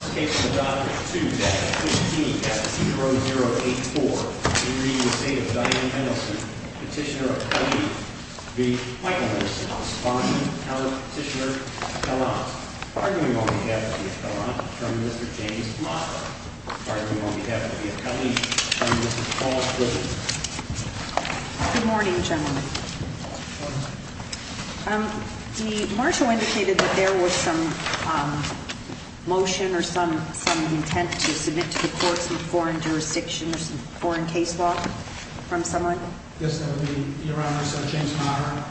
Petitioner of Colleen v. Michael Mendelson, responding to Petitioner Pellant, arguing on behalf of the Appellant, Attorney Mr. James Moffatt, arguing on behalf of the Appellant, Attorney Mr. Paul Strickland. Good morning, gentlemen. Good morning. The marshal indicated that there was some motion or some intent to submit to the courts a foreign jurisdiction or some foreign case law from someone? Yes, that would be Your Honor, Senator James Meyer.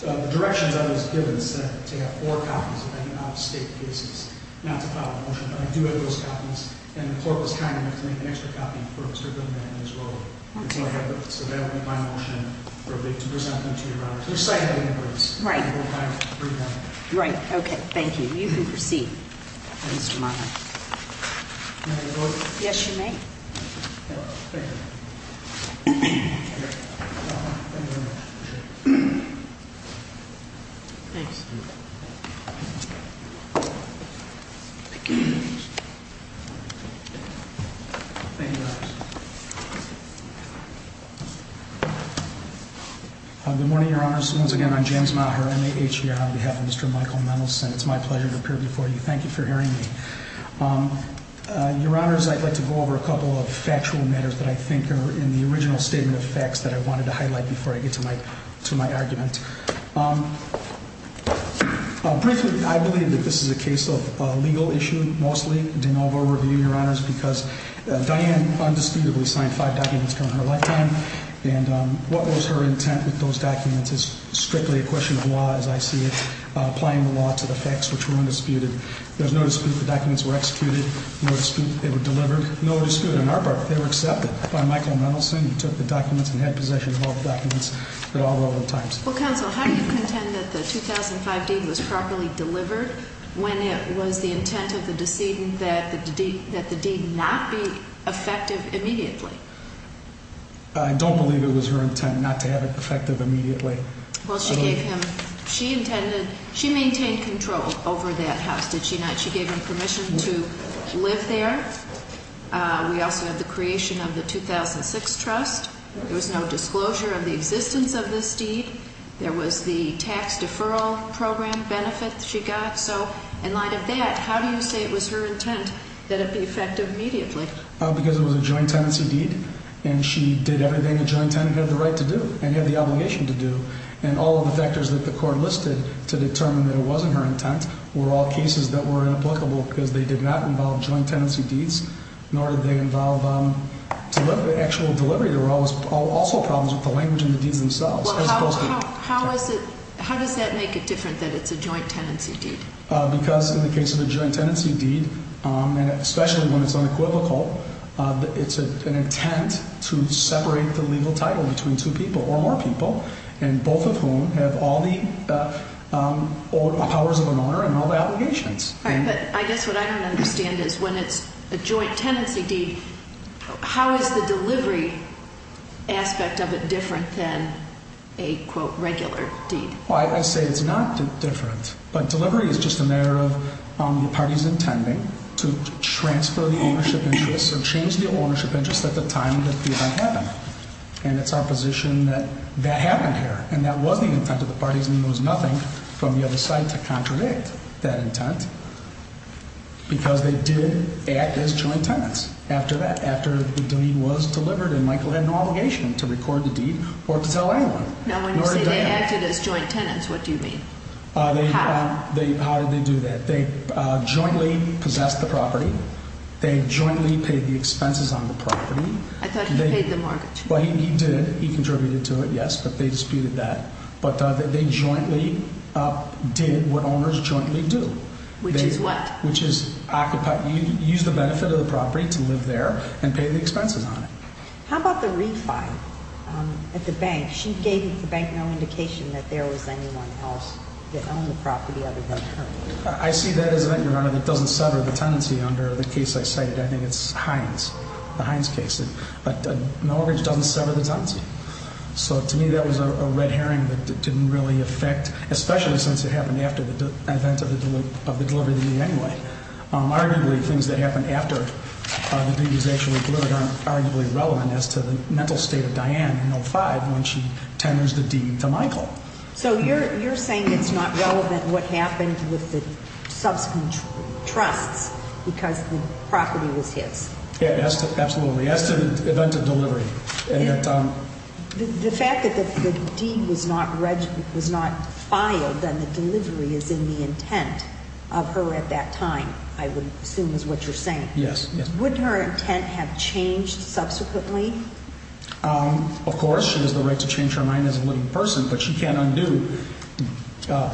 The directions I was given said to have four copies of any out-of-state cases, not to file a motion, but I do have those copies, and the court was kind enough to make an extra copy for Mr. Goodman as well. Okay. So that would be my motion to present them to Your Honor. Which side have any votes? Right. Right, okay, thank you. You can proceed, Mr. Moffatt. May I vote? Yes, you may. Thank you. Thank you very much. Thanks. Thank you, Your Honor. Good morning, Your Honors. Once again, I'm James Meyer, MAH here on behalf of Mr. Michael Mendelson. It's my pleasure to appear before you. Thank you for hearing me. Your Honors, I'd like to go over a couple of factual matters that I think are in the original statement of facts that I wanted to highlight before I get to my argument. Briefly, I believe that this is a case of legal issue, mostly, de novo review, Your Honors, because Diane undisputedly signed five documents during her lifetime, and what was her intent with those documents is strictly a question of law, as I see it, applying the law to the facts which were undisputed. There's no dispute the documents were executed. No dispute they were delivered. No dispute on our part, they were accepted by Michael Mendelson. He took the documents and had possession of all the documents at all relevant times. Well, counsel, how do you contend that the 2005 deed was properly delivered when it was the intent of the decedent that the deed not be effective immediately? I don't believe it was her intent not to have it effective immediately. Well, she gave him, she intended, she maintained control over that house, did she not? She gave him permission to live there. We also have the creation of the 2006 trust. There was no disclosure of the existence of this deed. There was the tax deferral program benefit she got. So, in light of that, how do you say it was her intent that it be effective immediately? Because it was a joint tenancy deed and she did everything a joint tenant had the right to do and had the obligation to do. And all of the factors that the court listed to determine that it wasn't her intent were all cases that were inapplicable because they did not involve joint tenancy deeds, nor did they involve actual delivery. There were also problems with the language and the deeds themselves. How does that make it different that it's a joint tenancy deed? Because in the case of a joint tenancy deed, and especially when it's unequivocal, it's an intent to separate the legal title between two people or more people, and both of whom have all the powers of an owner and all the obligations. All right, but I guess what I don't understand is when it's a joint tenancy deed, how is the delivery aspect of it different than a, quote, regular deed? Well, I say it's not different, but delivery is just a matter of the parties intending to transfer the ownership interest or change the ownership interest at the time that the event happened. And it's our position that that happened here, and that was the intent of the parties, and there was nothing from the other side to contradict that intent because they did act as joint tenants after that, after the deed was delivered and Michael had no obligation to record the deed or to tell anyone. Now, when you say they acted as joint tenants, what do you mean? How did they do that? They jointly possessed the property. They jointly paid the expenses on the property. I thought he paid the mortgage. Well, he did. He contributed to it, yes, but they disputed that. But they jointly did what owners jointly do. Which is what? Which is use the benefit of the property to live there and pay the expenses on it. How about the refi at the bank? She gave the bank no indication that there was anyone else that owned the property other than her. I see that as an event, Your Honor, that doesn't sever the tenancy under the case I cited. I think it's Hines, the Hines case. But a mortgage doesn't sever the tenancy. So, to me, that was a red herring that didn't really affect, especially since it happened after the event of the delivery of the deed anyway. Arguably, things that happened after the deed was actually delivered aren't arguably relevant as to the mental state of Diane in 05 when she tenders the deed to Michael. So you're saying it's not relevant what happened with the subsequent trusts because the property was his? Absolutely. As to the event of delivery. The fact that the deed was not filed and the delivery is in the intent of her at that time, I would assume is what you're saying. Yes. Wouldn't her intent have changed subsequently? Of course. She has the right to change her mind as a living person, but she can't undo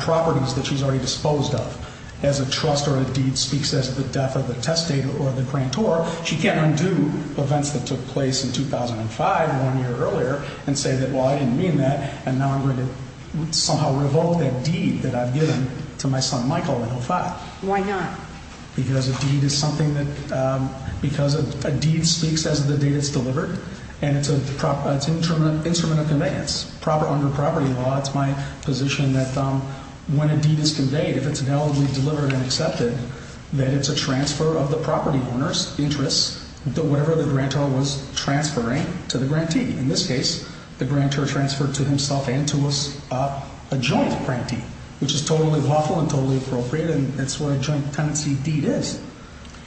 properties that she's already disposed of. As a trust or a deed speaks as the death of the testator or the grantor, she can't undo events that took place in 2005 or one year earlier and say that, well, I didn't mean that, and now I'm going to somehow revoke that deed that I've given to my son Michael in 05. Why not? Because a deed speaks as the date it's delivered, and it's an instrument of conveyance. Under property law, it's my position that when a deed is conveyed, if it's validly delivered and accepted, that it's a transfer of the property owner's interests, whatever the grantor was transferring to the grantee. In this case, the grantor transferred to himself and to us a joint grantee, which is totally lawful and totally appropriate, and that's what a joint tenancy deed is.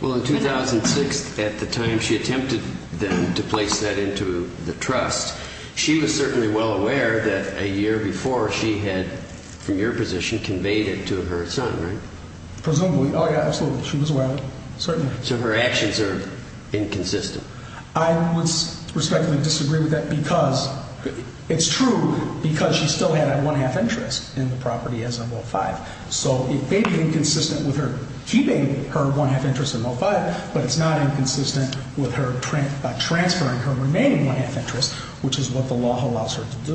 Well, in 2006, at the time she attempted then to place that into the trust, she was certainly well aware that a year before, she had, from your position, conveyed it to her son, right? Presumably. Oh, yeah, absolutely. She was aware of it, certainly. So her actions are inconsistent. I would respectfully disagree with that because it's true because she still had a one-half interest in the property as of 05. So it may be inconsistent with her keeping her one-half interest in 05, but it's not inconsistent with her transferring her remaining one-half interest, which is what the law allows her to do.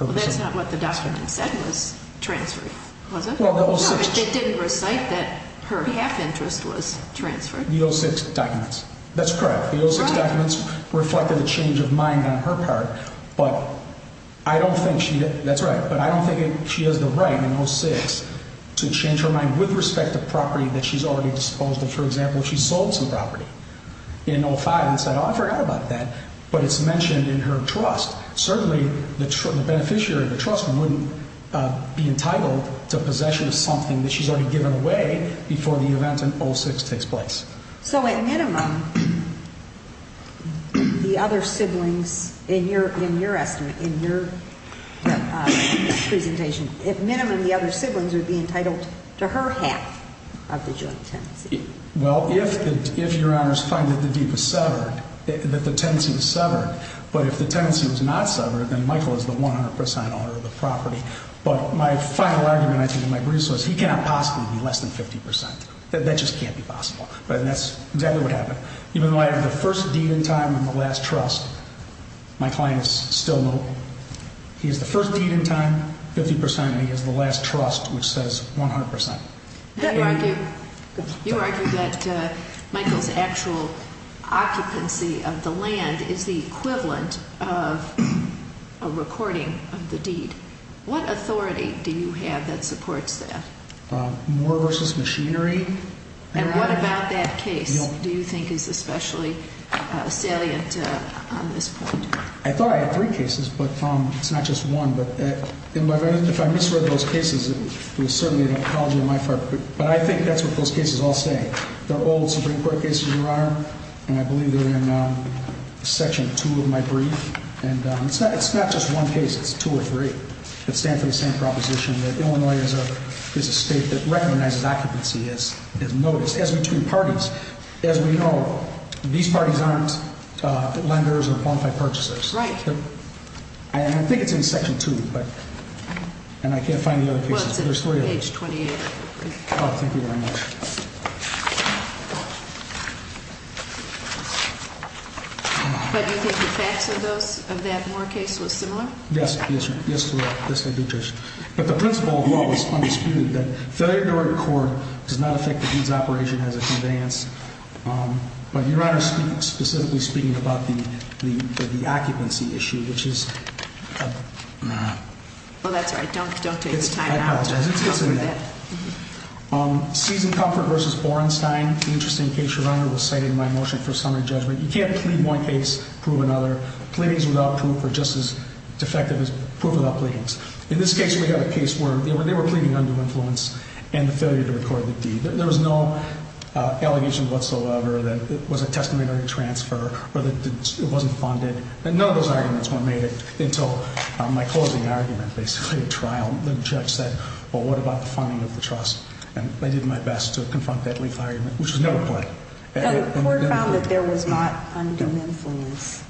Well, that's not what the document said was transferring, was it? Well, the 06. No, it didn't recite that her half interest was transferred. The 06 documents. That's correct. The 06 documents reflected a change of mind on her part, but I don't think she did. That's right. But I don't think she has the right in 06 to change her mind with respect to property that she's already disposed of. For example, she sold some property in 05 and said, oh, I forgot about that, but it's mentioned in her trust. Certainly, the beneficiary, the trustman, wouldn't be entitled to possession of something that she's already given away before the event in 06 takes place. So at minimum, the other siblings in your presentation, at minimum, the other siblings would be entitled to her half of the joint tenancy. Well, if Your Honor's finding that the deed was severed, that the tenancy was severed, but if the tenancy was not severed, then Michael is the 100 percent owner of the property. But my final argument, I think, in my briefs was he cannot possibly be less than 50 percent. That just can't be possible, and that's exactly what happened. Even though I have the first deed in time and the last trust, my client is still notable. He has the first deed in time, 50 percent, and he has the last trust, which says 100 percent. You argue that Michael's actual occupancy of the land is the equivalent of a recording of the deed. What authority do you have that supports that? More versus machinery. And what about that case do you think is especially salient on this point? I thought I had three cases, but it's not just one. If I misread those cases, it was certainly an apology on my part, but I think that's what those cases all say. They're old Supreme Court cases, Your Honor, and I believe they're in Section 2 of my brief. It's not just one case, it's two or three that stand for the same proposition, that Illinois is a state that recognizes occupancy as noticed, as between parties. As we know, these parties aren't lenders or qualified purchasers. Right. And I think it's in Section 2, but I can't find the other cases. Well, it's on page 28. Oh, thank you very much. But you think the facts of that Moore case was similar? Yes. Yes, Your Honor. Yes, I do, Judge. But the principle of the law was undisputed, that failure to record does not affect the deed's operation as a conveyance. But Your Honor, specifically speaking about the occupancy issue, which is a... Well, that's all right. Don't take the time out. I apologize. It's in there. Season Comfort v. Borenstein, an interesting case, Your Honor, was cited in my motion for summary judgment. You can't plead one case, prove another. Pleadings without proof are just as defective as proof without pleadings. In this case, we have a case where they were pleading undue influence and the failure to record the deed. There was no allegation whatsoever that it was a testamentary transfer or that it wasn't funded. None of those arguments were made until my closing argument, basically, at trial. The judge said, well, what about the funding of the trust? And I did my best to confront that legal argument, which was never pleaded. The court found that there was not undue influence.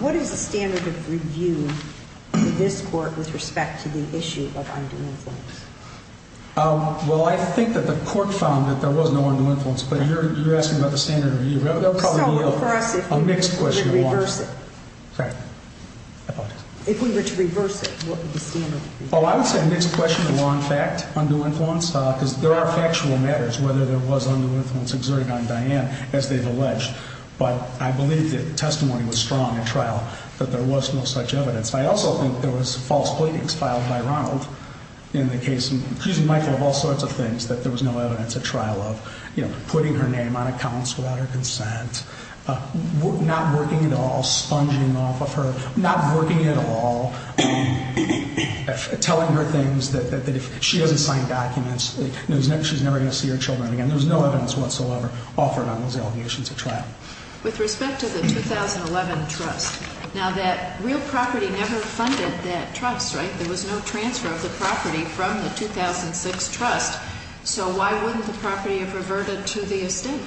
What is the standard of review in this court with respect to the issue of undue influence? Well, I think that the court found that there was no undue influence, but you're asking about the standard of review. So, for us, if we were to reverse it, what would the standard be? Well, I would say the next question would be on fact, undue influence, because there are factual matters whether there was undue influence exerted on Diane, as they've alleged. But I believe that the testimony was strong at trial that there was no such evidence. I also think there was false pleadings filed by Ronald in the case, and she's reminded of all sorts of things, that there was no evidence at trial of, you know, putting her name on accounts without her consent, not working at all, sponging off of her, not working at all, telling her things that if she doesn't sign documents, she's never going to see her children again. There was no evidence whatsoever offered on those allegations at trial. With respect to the 2011 trust, now that real property never funded that trust, right? There was no transfer of the property from the 2006 trust. So why wouldn't the property have reverted to the estate?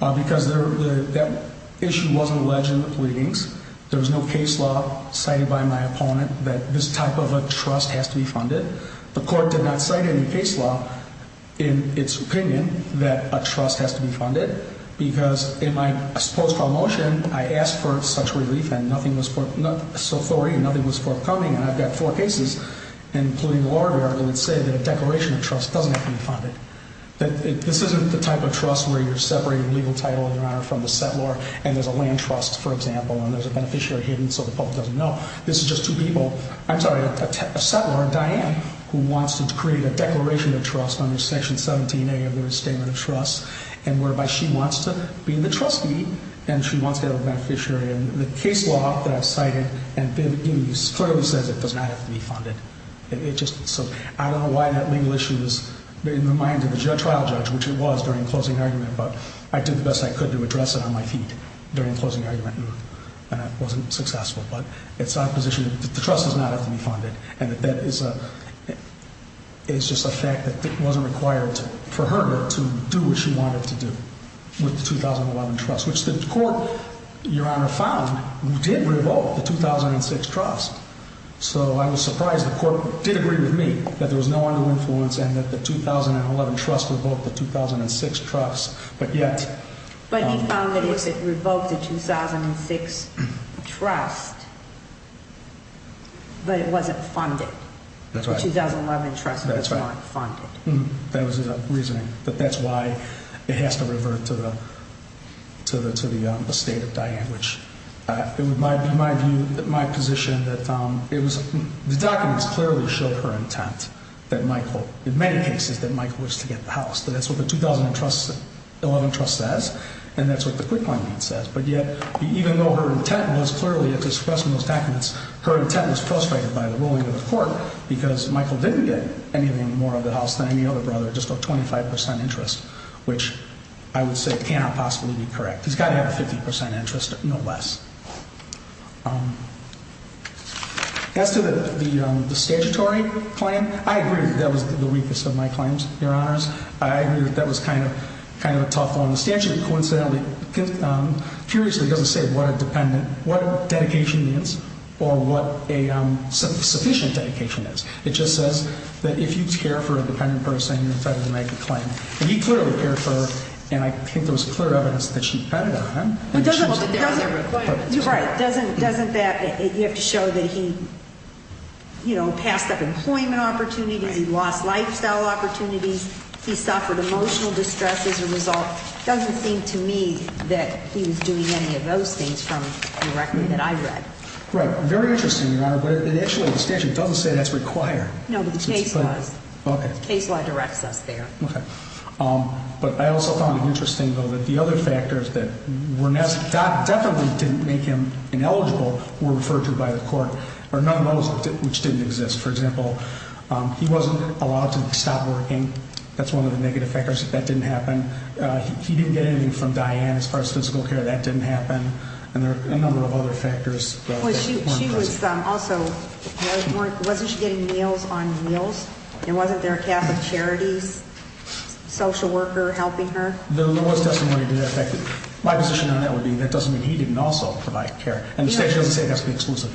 Because that issue wasn't alleged in the pleadings. There was no case law cited by my opponent that this type of a trust has to be funded. The court did not cite any case law in its opinion that a trust has to be funded, because in my post-trial motion, I asked for such relief, and nothing was forthcoming, and I've got four cases, including the lawyer variable, that say that a declaration of trust doesn't have to be funded. This isn't the type of trust where you're separating legal title and honor from the settlor, and there's a land trust, for example, and there's a beneficiary hidden so the public doesn't know. This is just two people, I'm sorry, a settlor, Diane, who wants to create a declaration of trust under Section 17A of the Restatement of Trust, and whereby she wants to be the trustee and she wants to be the beneficiary. And the case law that I've cited clearly says it does not have to be funded. So I don't know why that legal issue is in the mind of the trial judge, which it was during the closing argument, but I did the best I could to address it on my feet during the closing argument, and it wasn't successful. But it's my position that the trust does not have to be funded, and that that is just a fact that it wasn't required for her to do what she wanted to do with the 2011 trust, which the court, Your Honor, found did revoke the 2006 trust. So I was surprised the court did agree with me that there was no undue influence and that the 2011 trust revoked the 2006 trust, but yet... But he found that if it revoked the 2006 trust, but it wasn't funded. That's right. The 2011 trust was not funded. That was his reasoning, that that's why it has to revert to the estate of Diane, which in my view, my position that it was the documents clearly showed her intent that Michael, in many cases, that Michael wished to get the house. That's what the 2011 trust says, and that's what the acquittal agreement says. But yet, even though her intent was clearly expressed in those documents, her intent was frustrated by the ruling of the court because Michael didn't get anything more of the house than any other brother, just a 25 percent interest, which I would say cannot possibly be correct. He's got to have a 50 percent interest, no less. As to the statutory claim, I agree that that was the weakest of my claims, Your Honors. I agree that that was kind of a tough one. The statute coincidentally, curiously, doesn't say what a dependent, what dedication means or what a sufficient dedication is. It just says that if you care for a dependent person, you're entitled to make a claim. And he clearly cared for her, and I think there was clear evidence that she depended on him. But doesn't that, you have to show that he, you know, passed up employment opportunities, he lost lifestyle opportunities, he suffered emotional distress as a result. It doesn't seem to me that he was doing any of those things from the record that I read. Right. Very interesting, Your Honor. But it actually, the statute doesn't say that's required. No, but the case law. Okay. The case law directs us there. Okay. But I also found it interesting, though, that the other factors that definitely didn't make him ineligible were referred to by the court, or none of those which didn't exist. For example, he wasn't allowed to stop working. That's one of the negative factors. That didn't happen. He didn't get anything from Diane as far as physical care. That didn't happen. And there are a number of other factors. She was also, wasn't she getting meals on meals? And wasn't there a Catholic charity social worker helping her? The law's testimony did affect it. My position on that would be that doesn't mean he didn't also provide care. And the statute doesn't say it has to be exclusive.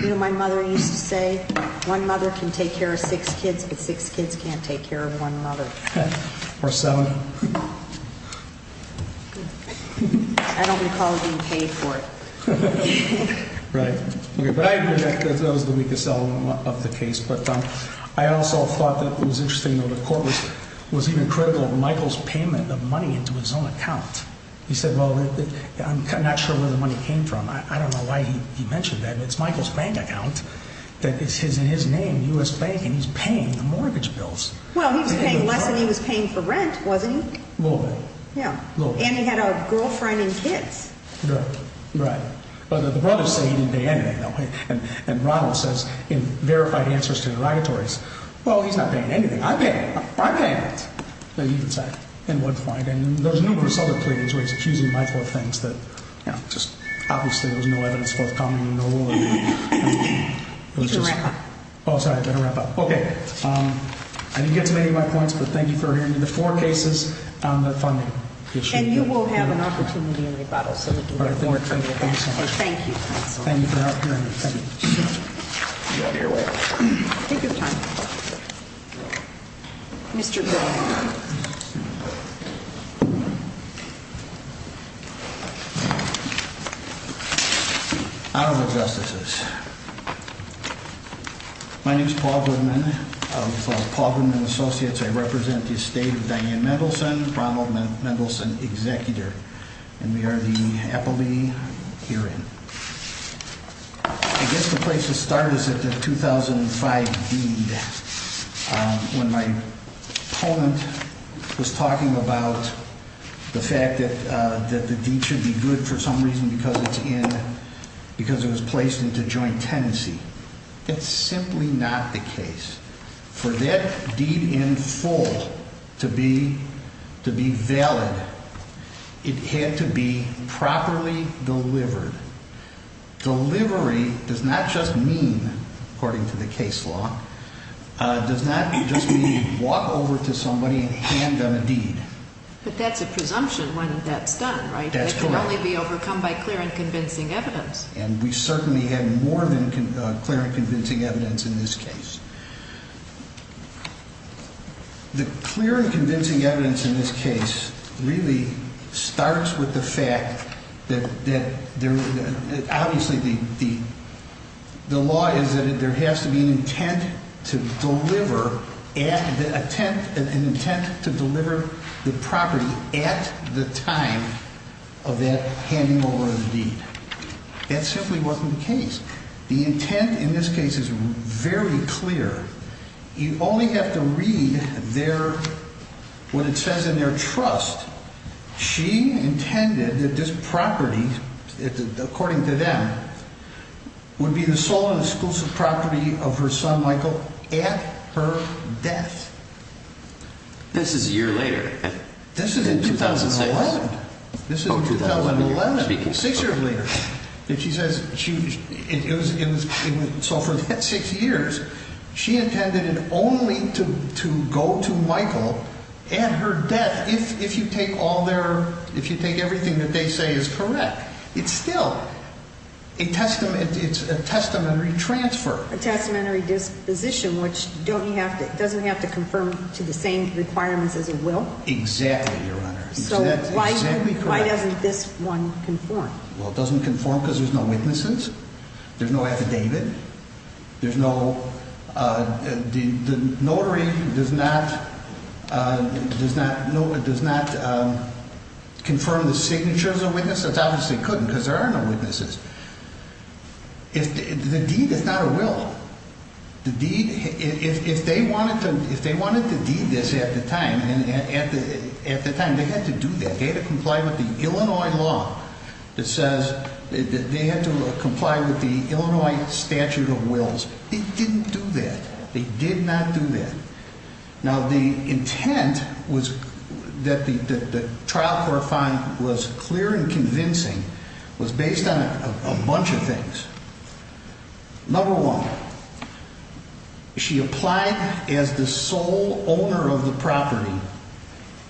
You know what my mother used to say? One mother can take care of six kids, but six kids can't take care of one mother. Or seven. I don't recall being paid for it. Right. But I agree that that was the weakest element of the case. But I also thought that it was interesting, though, the court was even critical of Michael's payment of money into his own account. He said, well, I'm not sure where the money came from. I don't know why he mentioned that. It's Michael's bank account that is in his name, U.S. Bank, and he's paying the mortgage bills. Well, he was paying less than he was paying for rent, wasn't he? A little bit. Yeah. And he had a girlfriend and kids. Right. Right. But the brothers say he didn't pay anything, though. And Ronald says in verified answers to interrogatories, well, he's not paying anything. I paid. I paid. He would say. At one point. And there's numerous other pleadings where he's accusing Michael of things that, you know, just obviously there was no evidence forthcoming in the rule. Oh, sorry. I better wrap up. Okay. I didn't get to many of my points, but thank you for hearing me. The four cases on the funding issue. And you will have an opportunity in rebuttal. So thank you. Honorable Justices. My name is Paul Goodman of the Paul Goodman Associates. I represent the estate of Diane Mendelsohn, Ronald Mendelsohn executor. And we are the appellee hearing. I guess the place to start is at the 2005 deed. When my opponent was talking about the fact that the deed should be good for some reason because it's in, because it was placed into joint tenancy. That's simply not the case. For that deed in full to be valid, it had to be properly delivered. Delivery does not just mean, according to the case law, does not just mean walk over to somebody and hand them a deed. But that's a presumption when that's done, right? That's correct. It can only be overcome by clear and convincing evidence. And we certainly had more than clear and convincing evidence in this case. The clear and convincing evidence in this case really starts with the fact that, obviously, the law is that there has to be an intent to deliver, an intent to deliver the property at the time of that handing over of the deed. That simply wasn't the case. The intent in this case is very clear. You only have to read their, what it says in their trust. She intended that this property, according to them, would be the sole and exclusive property of her son Michael at her death. This is a year later. This is in 2011. Six years later. So for that six years, she intended it only to go to Michael at her death, if you take all their, if you take everything that they say is correct. It's still a testamentary transfer. A testamentary disposition, which doesn't have to confirm to the same requirements as a will? Exactly, Your Honor. So why doesn't this one conform? Well, it doesn't conform because there's no witnesses. There's no affidavit. There's no, the notary does not, does not confirm the signatures of witnesses. It obviously couldn't because there are no witnesses. The deed is not a will. The deed, if they wanted to, if they wanted to deed this at the time, at the time, they had to do that. They had to comply with the Illinois law that says they had to comply with the Illinois statute of wills. They didn't do that. They did not do that. Now, the intent was that the trial court find was clear and convincing was based on a bunch of things. Number one, she applied as the sole owner of the property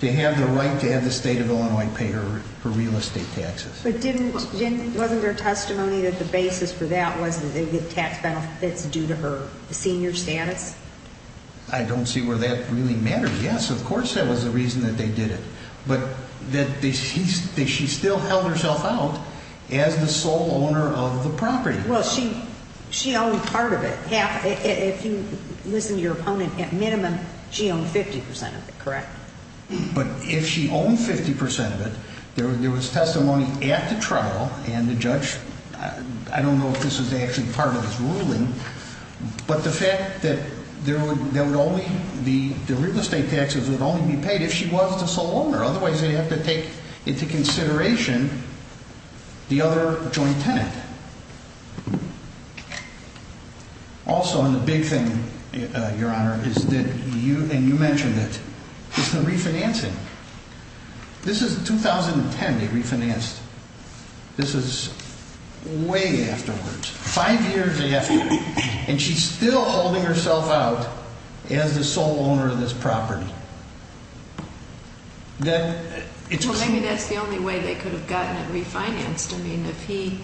to have the right to have the state of Illinois pay her real estate taxes. But didn't, wasn't there testimony that the basis for that was that they would get tax benefits due to her senior status? I don't see where that really mattered. Yes, of course that was the reason that they did it. But that she still held herself out as the sole owner of the property. Well, she owned part of it. If you listen to your opponent, at minimum, she owned 50% of it, correct? But if she owned 50% of it, there was testimony at the trial, and the judge, I don't know if this was actually part of his ruling, but the fact that there would only be, the real estate taxes would only be paid if she was the sole owner. Otherwise, they'd have to take into consideration the other joint tenant. Also, and the big thing, Your Honor, is that you, and you mentioned it, is the refinancing. This is 2010 they refinanced. This is way afterwards, five years after. And she's still holding herself out as the sole owner of this property. Well, maybe that's the only way they could have gotten it refinanced. I mean, if he,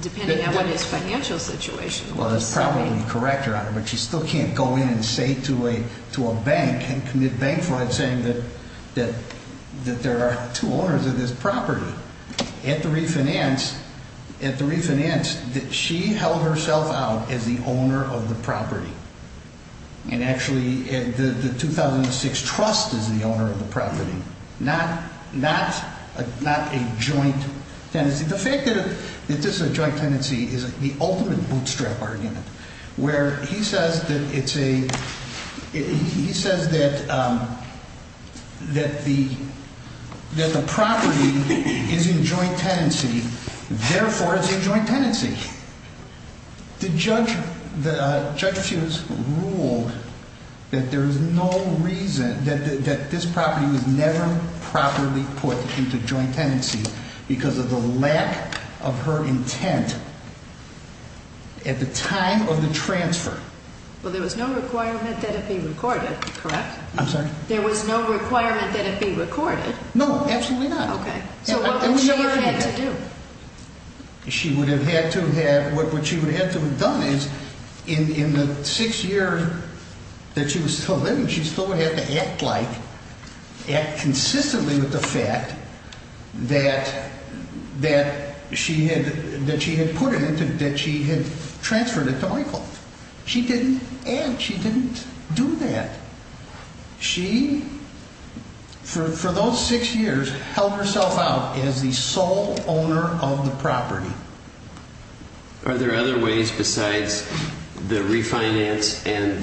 depending on what his financial situation was. Well, that's probably correct, Your Honor, but she still can't go in and say to a bank, and commit bank fraud saying that there are two owners of this property. At the refinance, she held herself out as the owner of the property. And actually, the 2006 trust is the owner of the property, not a joint tenancy. The fact that this is a joint tenancy is the ultimate bootstrap argument. Where he says that it's a, he says that the property is in joint tenancy. Therefore, it's a joint tenancy. The judge, Judge Hughes, ruled that there is no reason, that this property was never properly put into joint tenancy because of the lack of her intent. At the time of the transfer. Well, there was no requirement that it be recorded, correct? I'm sorry? There was no requirement that it be recorded? No, absolutely not. Okay. So what would she have had to do? She would have had to have, what she would have had to have done is, in the six years that she was still living, she still would have had to act like, act consistently with the fact that she had put it into, that she had transferred it to Michael. She didn't, and she didn't do that. She, for those six years, held herself out as the sole owner of the property. Are there other ways besides the refinance and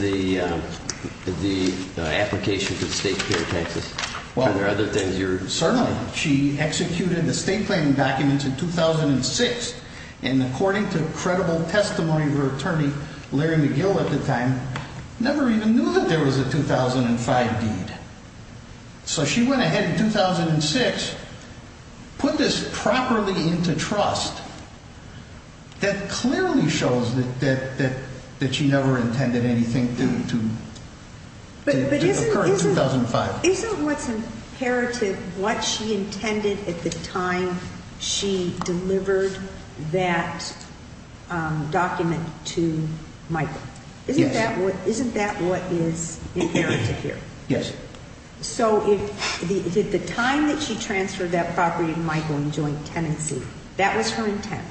the application for the state care taxes? Well, certainly. She executed the state claiming documents in 2006, and according to credible testimony of her attorney, Larry McGill at the time, never even knew that there was a 2005 deed. So she went ahead in 2006, put this properly into trust. That clearly shows that she never intended anything to occur in 2005. But isn't what's inherited what she intended at the time she delivered that document to Michael? Yes. Isn't that what is inherited here? Yes. So the time that she transferred that property to Michael in joint tenancy, that was her intent.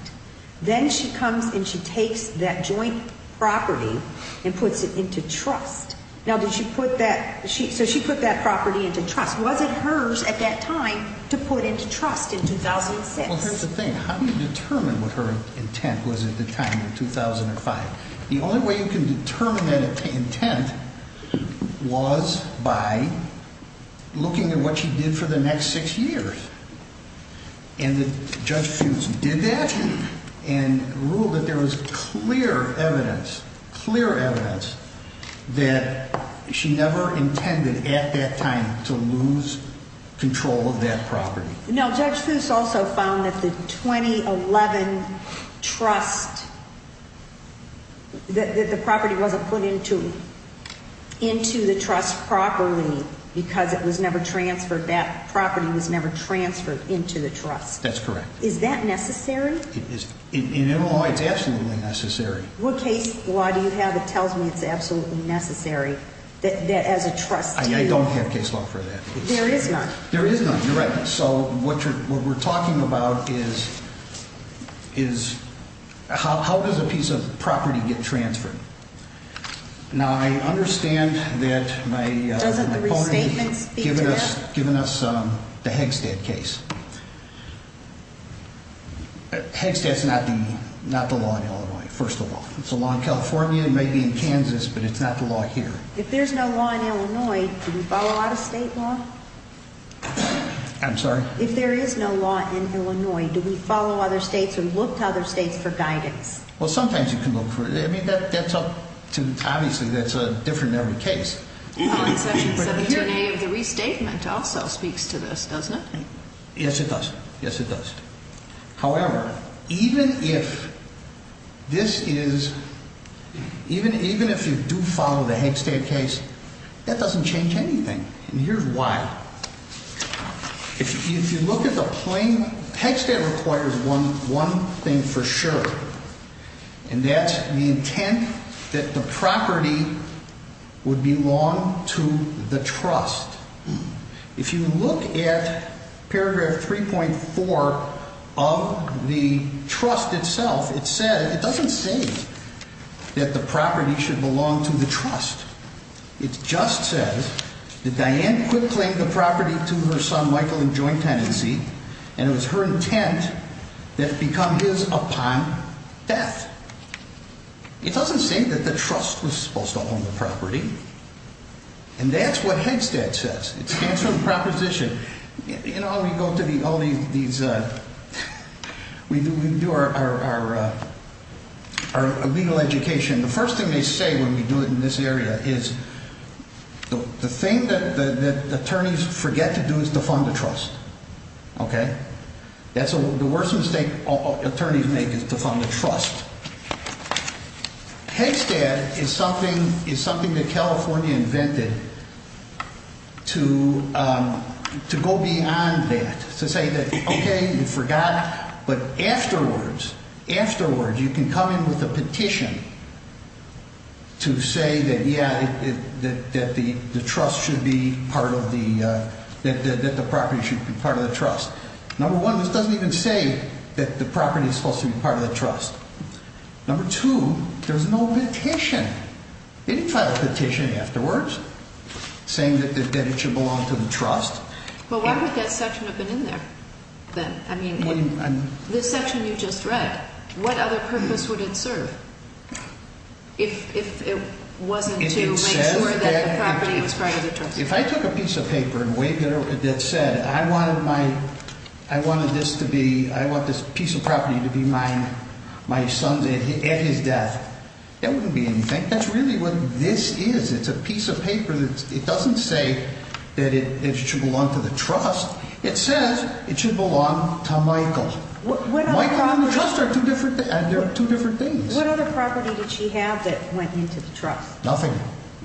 Then she comes and she takes that joint property and puts it into trust. Now, did she put that, so she put that property into trust. Was it hers at that time to put into trust in 2006? Well, here's the thing. How do you determine what her intent was at the time in 2005? The only way you can determine that intent was by looking at what she did for the next six years. And Judge Fuchs did that and ruled that there was clear evidence, clear evidence, that she never intended at that time to lose control of that property. Now, Judge Fuchs also found that the 2011 trust, that the property wasn't put into the trust properly because it was never transferred, that property was never transferred into the trust. That's correct. Is that necessary? In our law, it's absolutely necessary. What case law do you have that tells me it's absolutely necessary that as a trustee? I don't have case law for that. There is none. There is none. You're right. So what we're talking about is how does a piece of property get transferred? Now, I understand that my opponent has given us the Hegstad case. Hegstad's not the law in Illinois, first of all. It's a law in California, maybe in Kansas, but it's not the law here. If there's no law in Illinois, do we follow out-of-state law? I'm sorry? If there is no law in Illinois, do we follow other states or look to other states for guidance? Well, sometimes you can look for it. I mean, that's up to – obviously, that's different in every case. The attorney of the restatement also speaks to this, doesn't it? Yes, it does. Yes, it does. However, even if this is – even if you do follow the Hegstad case, that doesn't change anything. And here's why. If you look at the plain – Hegstad requires one thing for sure, and that's the intent that the property would belong to the trust. If you look at paragraph 3.4 of the trust itself, it says – it doesn't say that the property should belong to the trust. It just says that Diane could claim the property to her son Michael in joint tenancy, and it was her intent that it become his upon death. It doesn't say that the trust was supposed to own the property. And that's what Hegstad says. It stands for the proposition. You know, we go to the – all these – we do our legal education. The first thing they say when we do it in this area is the thing that attorneys forget to do is to fund the trust. Okay? That's the worst mistake attorneys make is to fund the trust. Hegstad is something that California invented to go beyond that, to say that, okay, you forgot. But afterwards, afterwards, you can come in with a petition to say that, yeah, that the trust should be part of the – that the property should be part of the trust. Number one, this doesn't even say that the property is supposed to be part of the trust. Number two, there's no petition. They didn't file a petition afterwards saying that it should belong to the trust. But why would that section have been in there then? I mean, this section you just read, what other purpose would it serve if it wasn't to make sure that the property was part of the trust? If I took a piece of paper that said I wanted my – I wanted this to be – I want this piece of property to be my son's – at his death, that wouldn't be anything. That's really what this is. It's a piece of paper that – it doesn't say that it should belong to the trust. It says it should belong to Michael. Michael and the trust are two different – they're two different things. What other property did she have that went into the trust? Nothing.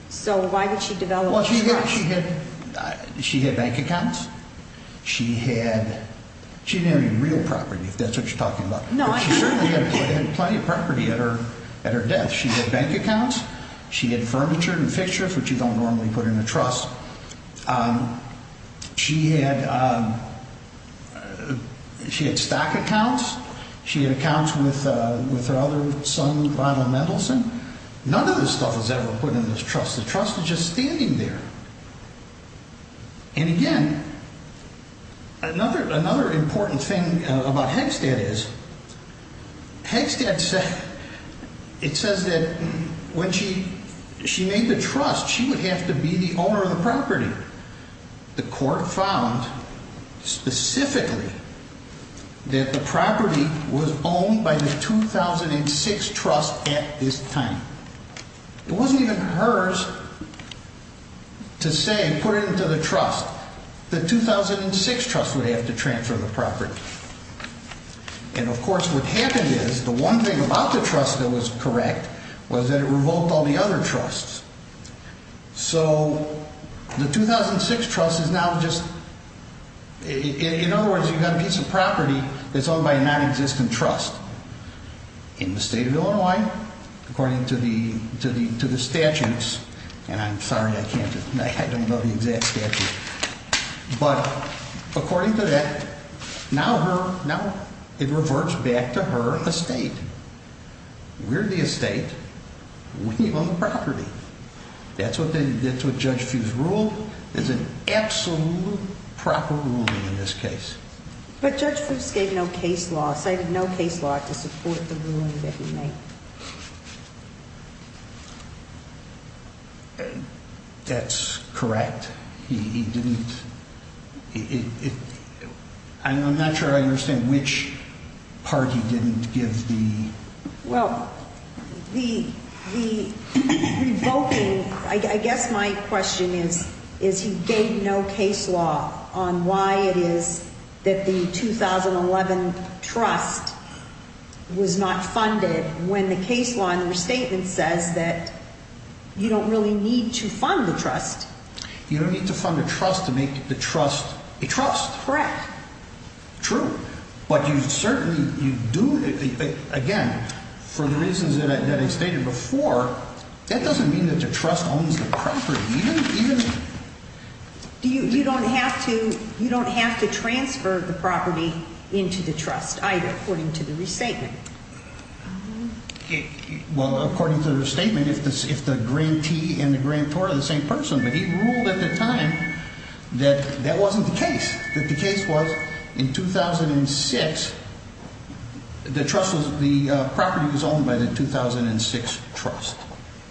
So why did she develop the trust? Well, she had bank accounts. She had – she didn't have any real property, if that's what you're talking about. No, I didn't. But she certainly had plenty of property at her death. She had bank accounts. She had furniture and fixtures, which you don't normally put in a trust. She had – she had stock accounts. She had accounts with her other son, Ronald Mendelsohn. None of this stuff was ever put in this trust. The trust is just standing there. And, again, another important thing about Hegstad is Hegstad said – it says that when she made the trust, she would have to be the owner of the property. The court found specifically that the property was owned by the 2006 trust at this time. It wasn't even hers to say put it into the trust. The 2006 trust would have to transfer the property. And, of course, what happened is the one thing about the trust that was correct was that it revoked all the other trusts. So the 2006 trust is now just – in other words, you've got a piece of property that's owned by a nonexistent trust in the state of Illinois according to the statutes. And I'm sorry, I can't – I don't know the exact statutes. But according to that, now her – now it reverts back to her estate. We're the estate. We own the property. That's what Judge Fuchs ruled. It's an absolute proper ruling in this case. But Judge Fuchs gave no case law. He cited no case law to support the ruling that he made. That's correct. He didn't – I'm not sure I understand which part he didn't give the – Well, the revoking – I guess my question is he gave no case law on why it is that the 2011 trust was not funded when the case law in the restatement says that you don't really need to fund the trust. You don't need to fund the trust to make the trust a trust. Correct. True. But you certainly – you do – again, for the reasons that I stated before, that doesn't mean that the trust owns the property. You don't even – You don't have to transfer the property into the trust either according to the restatement. Well, according to the restatement, if the grantee and the grantor are the same person, but he ruled at the time that that wasn't the case, that the case was in 2006, the trust was – the property was owned by the 2006 trust.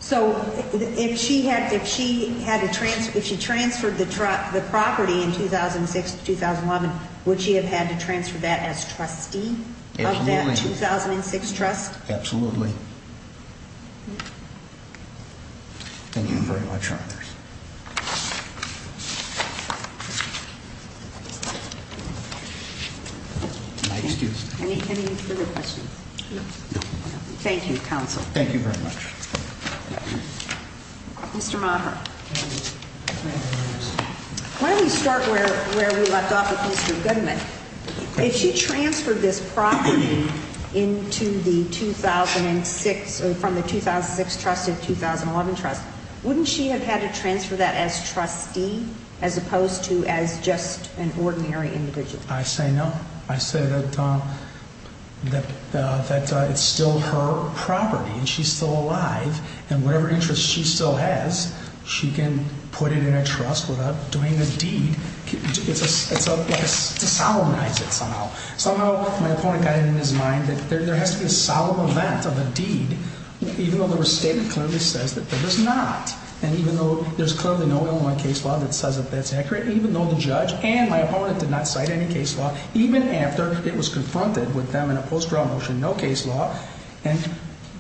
So if she had to – if she had to transfer – if she transferred the property in 2006 to 2011, would she have had to transfer that as trustee of that 2006 trust? Absolutely. Absolutely. Thank you very much, Your Honors. My excuse. Any further questions? No. Thank you, Counsel. Thank you very much. Mr. Moffitt, why don't we start where we left off with Mr. Goodman. If she transferred this property into the 2006 – from the 2006 trust to the 2011 trust, wouldn't she have had to transfer that as trustee as opposed to as just an ordinary individual? I say no. I say that – that it's still her property and she's still alive, and whatever interest she still has, she can put it in a trust without doing a deed. It's a – it's a – it's a solemnize it somehow. Somehow my opponent got it in his mind that there has to be a solemn event of a deed, even though the restatement clearly says that there is not. And even though there's clearly no Illinois case law that says that that's accurate, even though the judge and my opponent did not cite any case law, even after it was confronted with them in a post-trial motion, no case law. And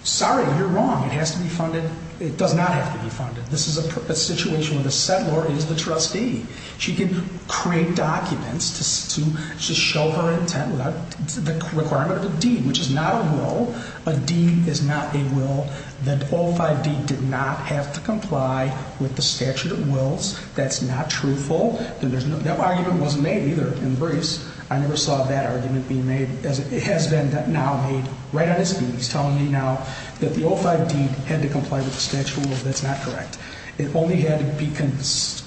sorry, you're wrong. It has to be funded – it does not have to be funded. This is a situation where the settlor is the trustee. She can create documents to show her intent without the requirement of a deed, which is not a will. A deed is not a will. The O5 deed did not have to comply with the statute of wills. That's not truthful. That argument wasn't made either in the briefs. I never saw that argument being made. It has been now made right on his feet. He's telling me now that the O5 deed had to comply with the statute of wills. That's not correct. It only had to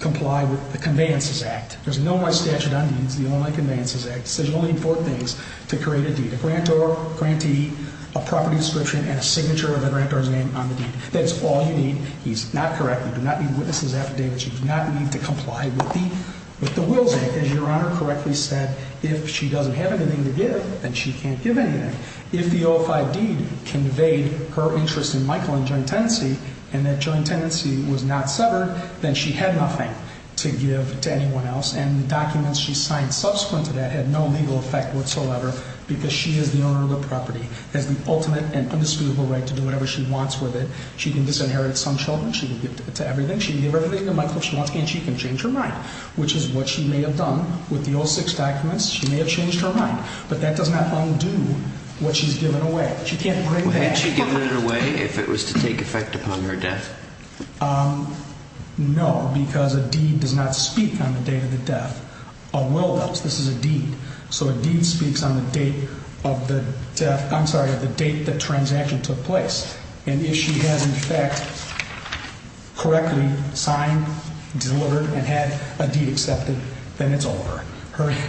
comply with the Conveyances Act. There's no more statute on deeds. The Illinois Conveyances Act says you only need four things to create a deed. A grantor, grantee, a property description, and a signature of the grantor's name on the deed. That's all you need. He's not correct. You do not need witnesses' affidavits. You do not need to comply with the wills. As Your Honor correctly said, if she doesn't have anything to give, then she can't give anything. If the O5 deed conveyed her interest in Michael and joint tenancy and that joint tenancy was not severed, then she had nothing to give to anyone else. And the documents she signed subsequent to that had no legal effect whatsoever because she is the owner of the property, has the ultimate and indisputable right to do whatever she wants with it. She can disinherit some children. She can give to everything. She can give everything to Michael if she wants, and she can change her mind, which is what she may have done with the O6 documents. She may have changed her mind, but that does not undo what she's given away. She can't bring that back. Had she given it away if it was to take effect upon her death? No, because a deed does not speak on the date of the death. A will does. This is a deed. So a deed speaks on the date of the death. I'm sorry, of the date the transaction took place. And if she has, in fact, correctly signed, delivered, and had a deed accepted, then it's over.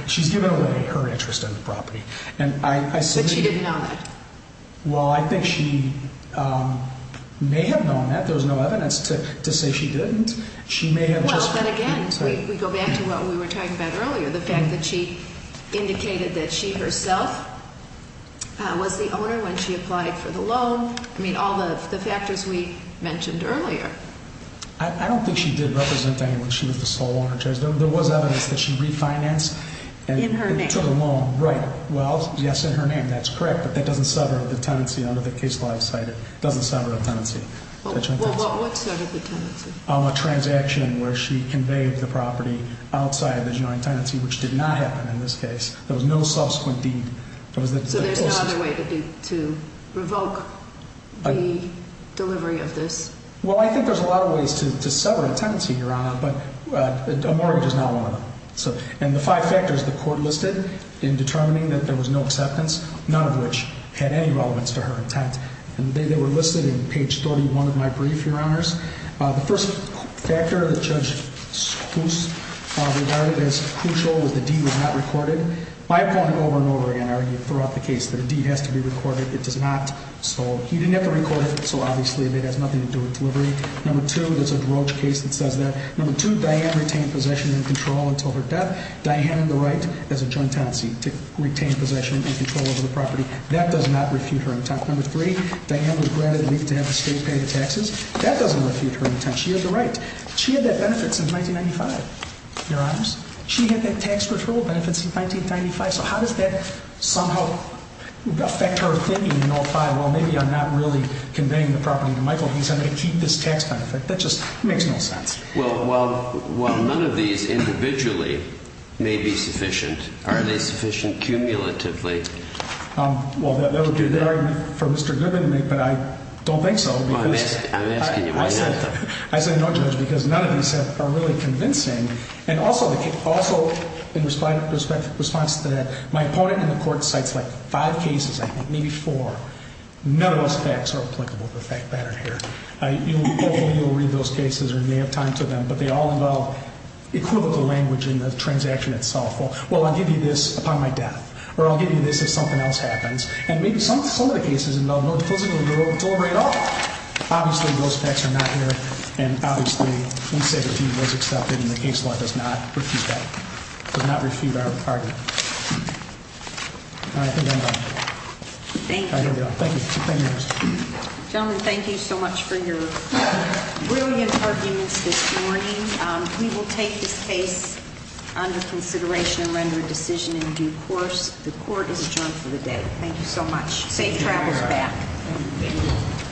She's given away her interest in the property. But she didn't know that. Well, I think she may have known that. There was no evidence to say she didn't. She may have just— But again, we go back to what we were talking about earlier, the fact that she indicated that she herself was the owner when she applied for the loan. I mean, all the factors we mentioned earlier. I don't think she did represent anyone. She was the sole owner. There was evidence that she refinanced and took a loan. In her name. Right. Well, yes, in her name. That's correct. But that doesn't sever the tenancy under the case law. It doesn't sever the tenancy. Well, what sort of a tenancy? A transaction where she conveyed the property outside of the joint tenancy, which did not happen in this case. There was no subsequent deed. So there's no other way to revoke the delivery of this? Well, I think there's a lot of ways to sever a tenancy, Your Honor, but a mortgage is not one of them. And the five factors the court listed in determining that there was no acceptance, none of which had any relevance to her intent, they were listed in page 31 of my brief, Your Honors. The first factor that Judge Kuss regarded as crucial was the deed was not recorded. My opponent over and over again argued throughout the case that a deed has to be recorded. It does not. So he didn't have to record it. So obviously it has nothing to do with delivery. Number two, there's a Droge case that says that. Number two, Diane retained possession and control until her death. Diane on the right has a joint tenancy to retain possession and control over the property. That does not refute her intent. Number three, Diane was granted leave to have the state pay the taxes. That doesn't refute her intent. She had the right. She had that benefit since 1995, Your Honors. She had that tax control benefit since 1995. So how does that somehow affect her thinking in 05, well, maybe I'm not really conveying the property to Michael. He's going to keep this tax benefit. That just makes no sense. Well, while none of these individually may be sufficient, are they sufficient cumulatively? Well, that would be an argument for Mr. Goodman, but I don't think so. I say no, Judge, because none of these are really convincing. And also in response to that, my opponent in the court cites like five cases, I think, maybe four. None of those facts are applicable to the fact pattern here. Hopefully you'll read those cases or you may have time to them, but they all involve equivocal language in the transaction itself. Well, I'll give you this upon my death, or I'll give you this if something else happens. And maybe some of the cases involve no closing of the door at all. Obviously, those facts are not here. And obviously, we say that he was accepted in the case law, does not refute that, does not refute our argument. All right, I think I'm done. Thank you. Thank you. Gentlemen, thank you so much for your brilliant arguments this morning. We will take this case under consideration and render a decision in due course. The court is adjourned for the day. Thank you so much. Safe travels back.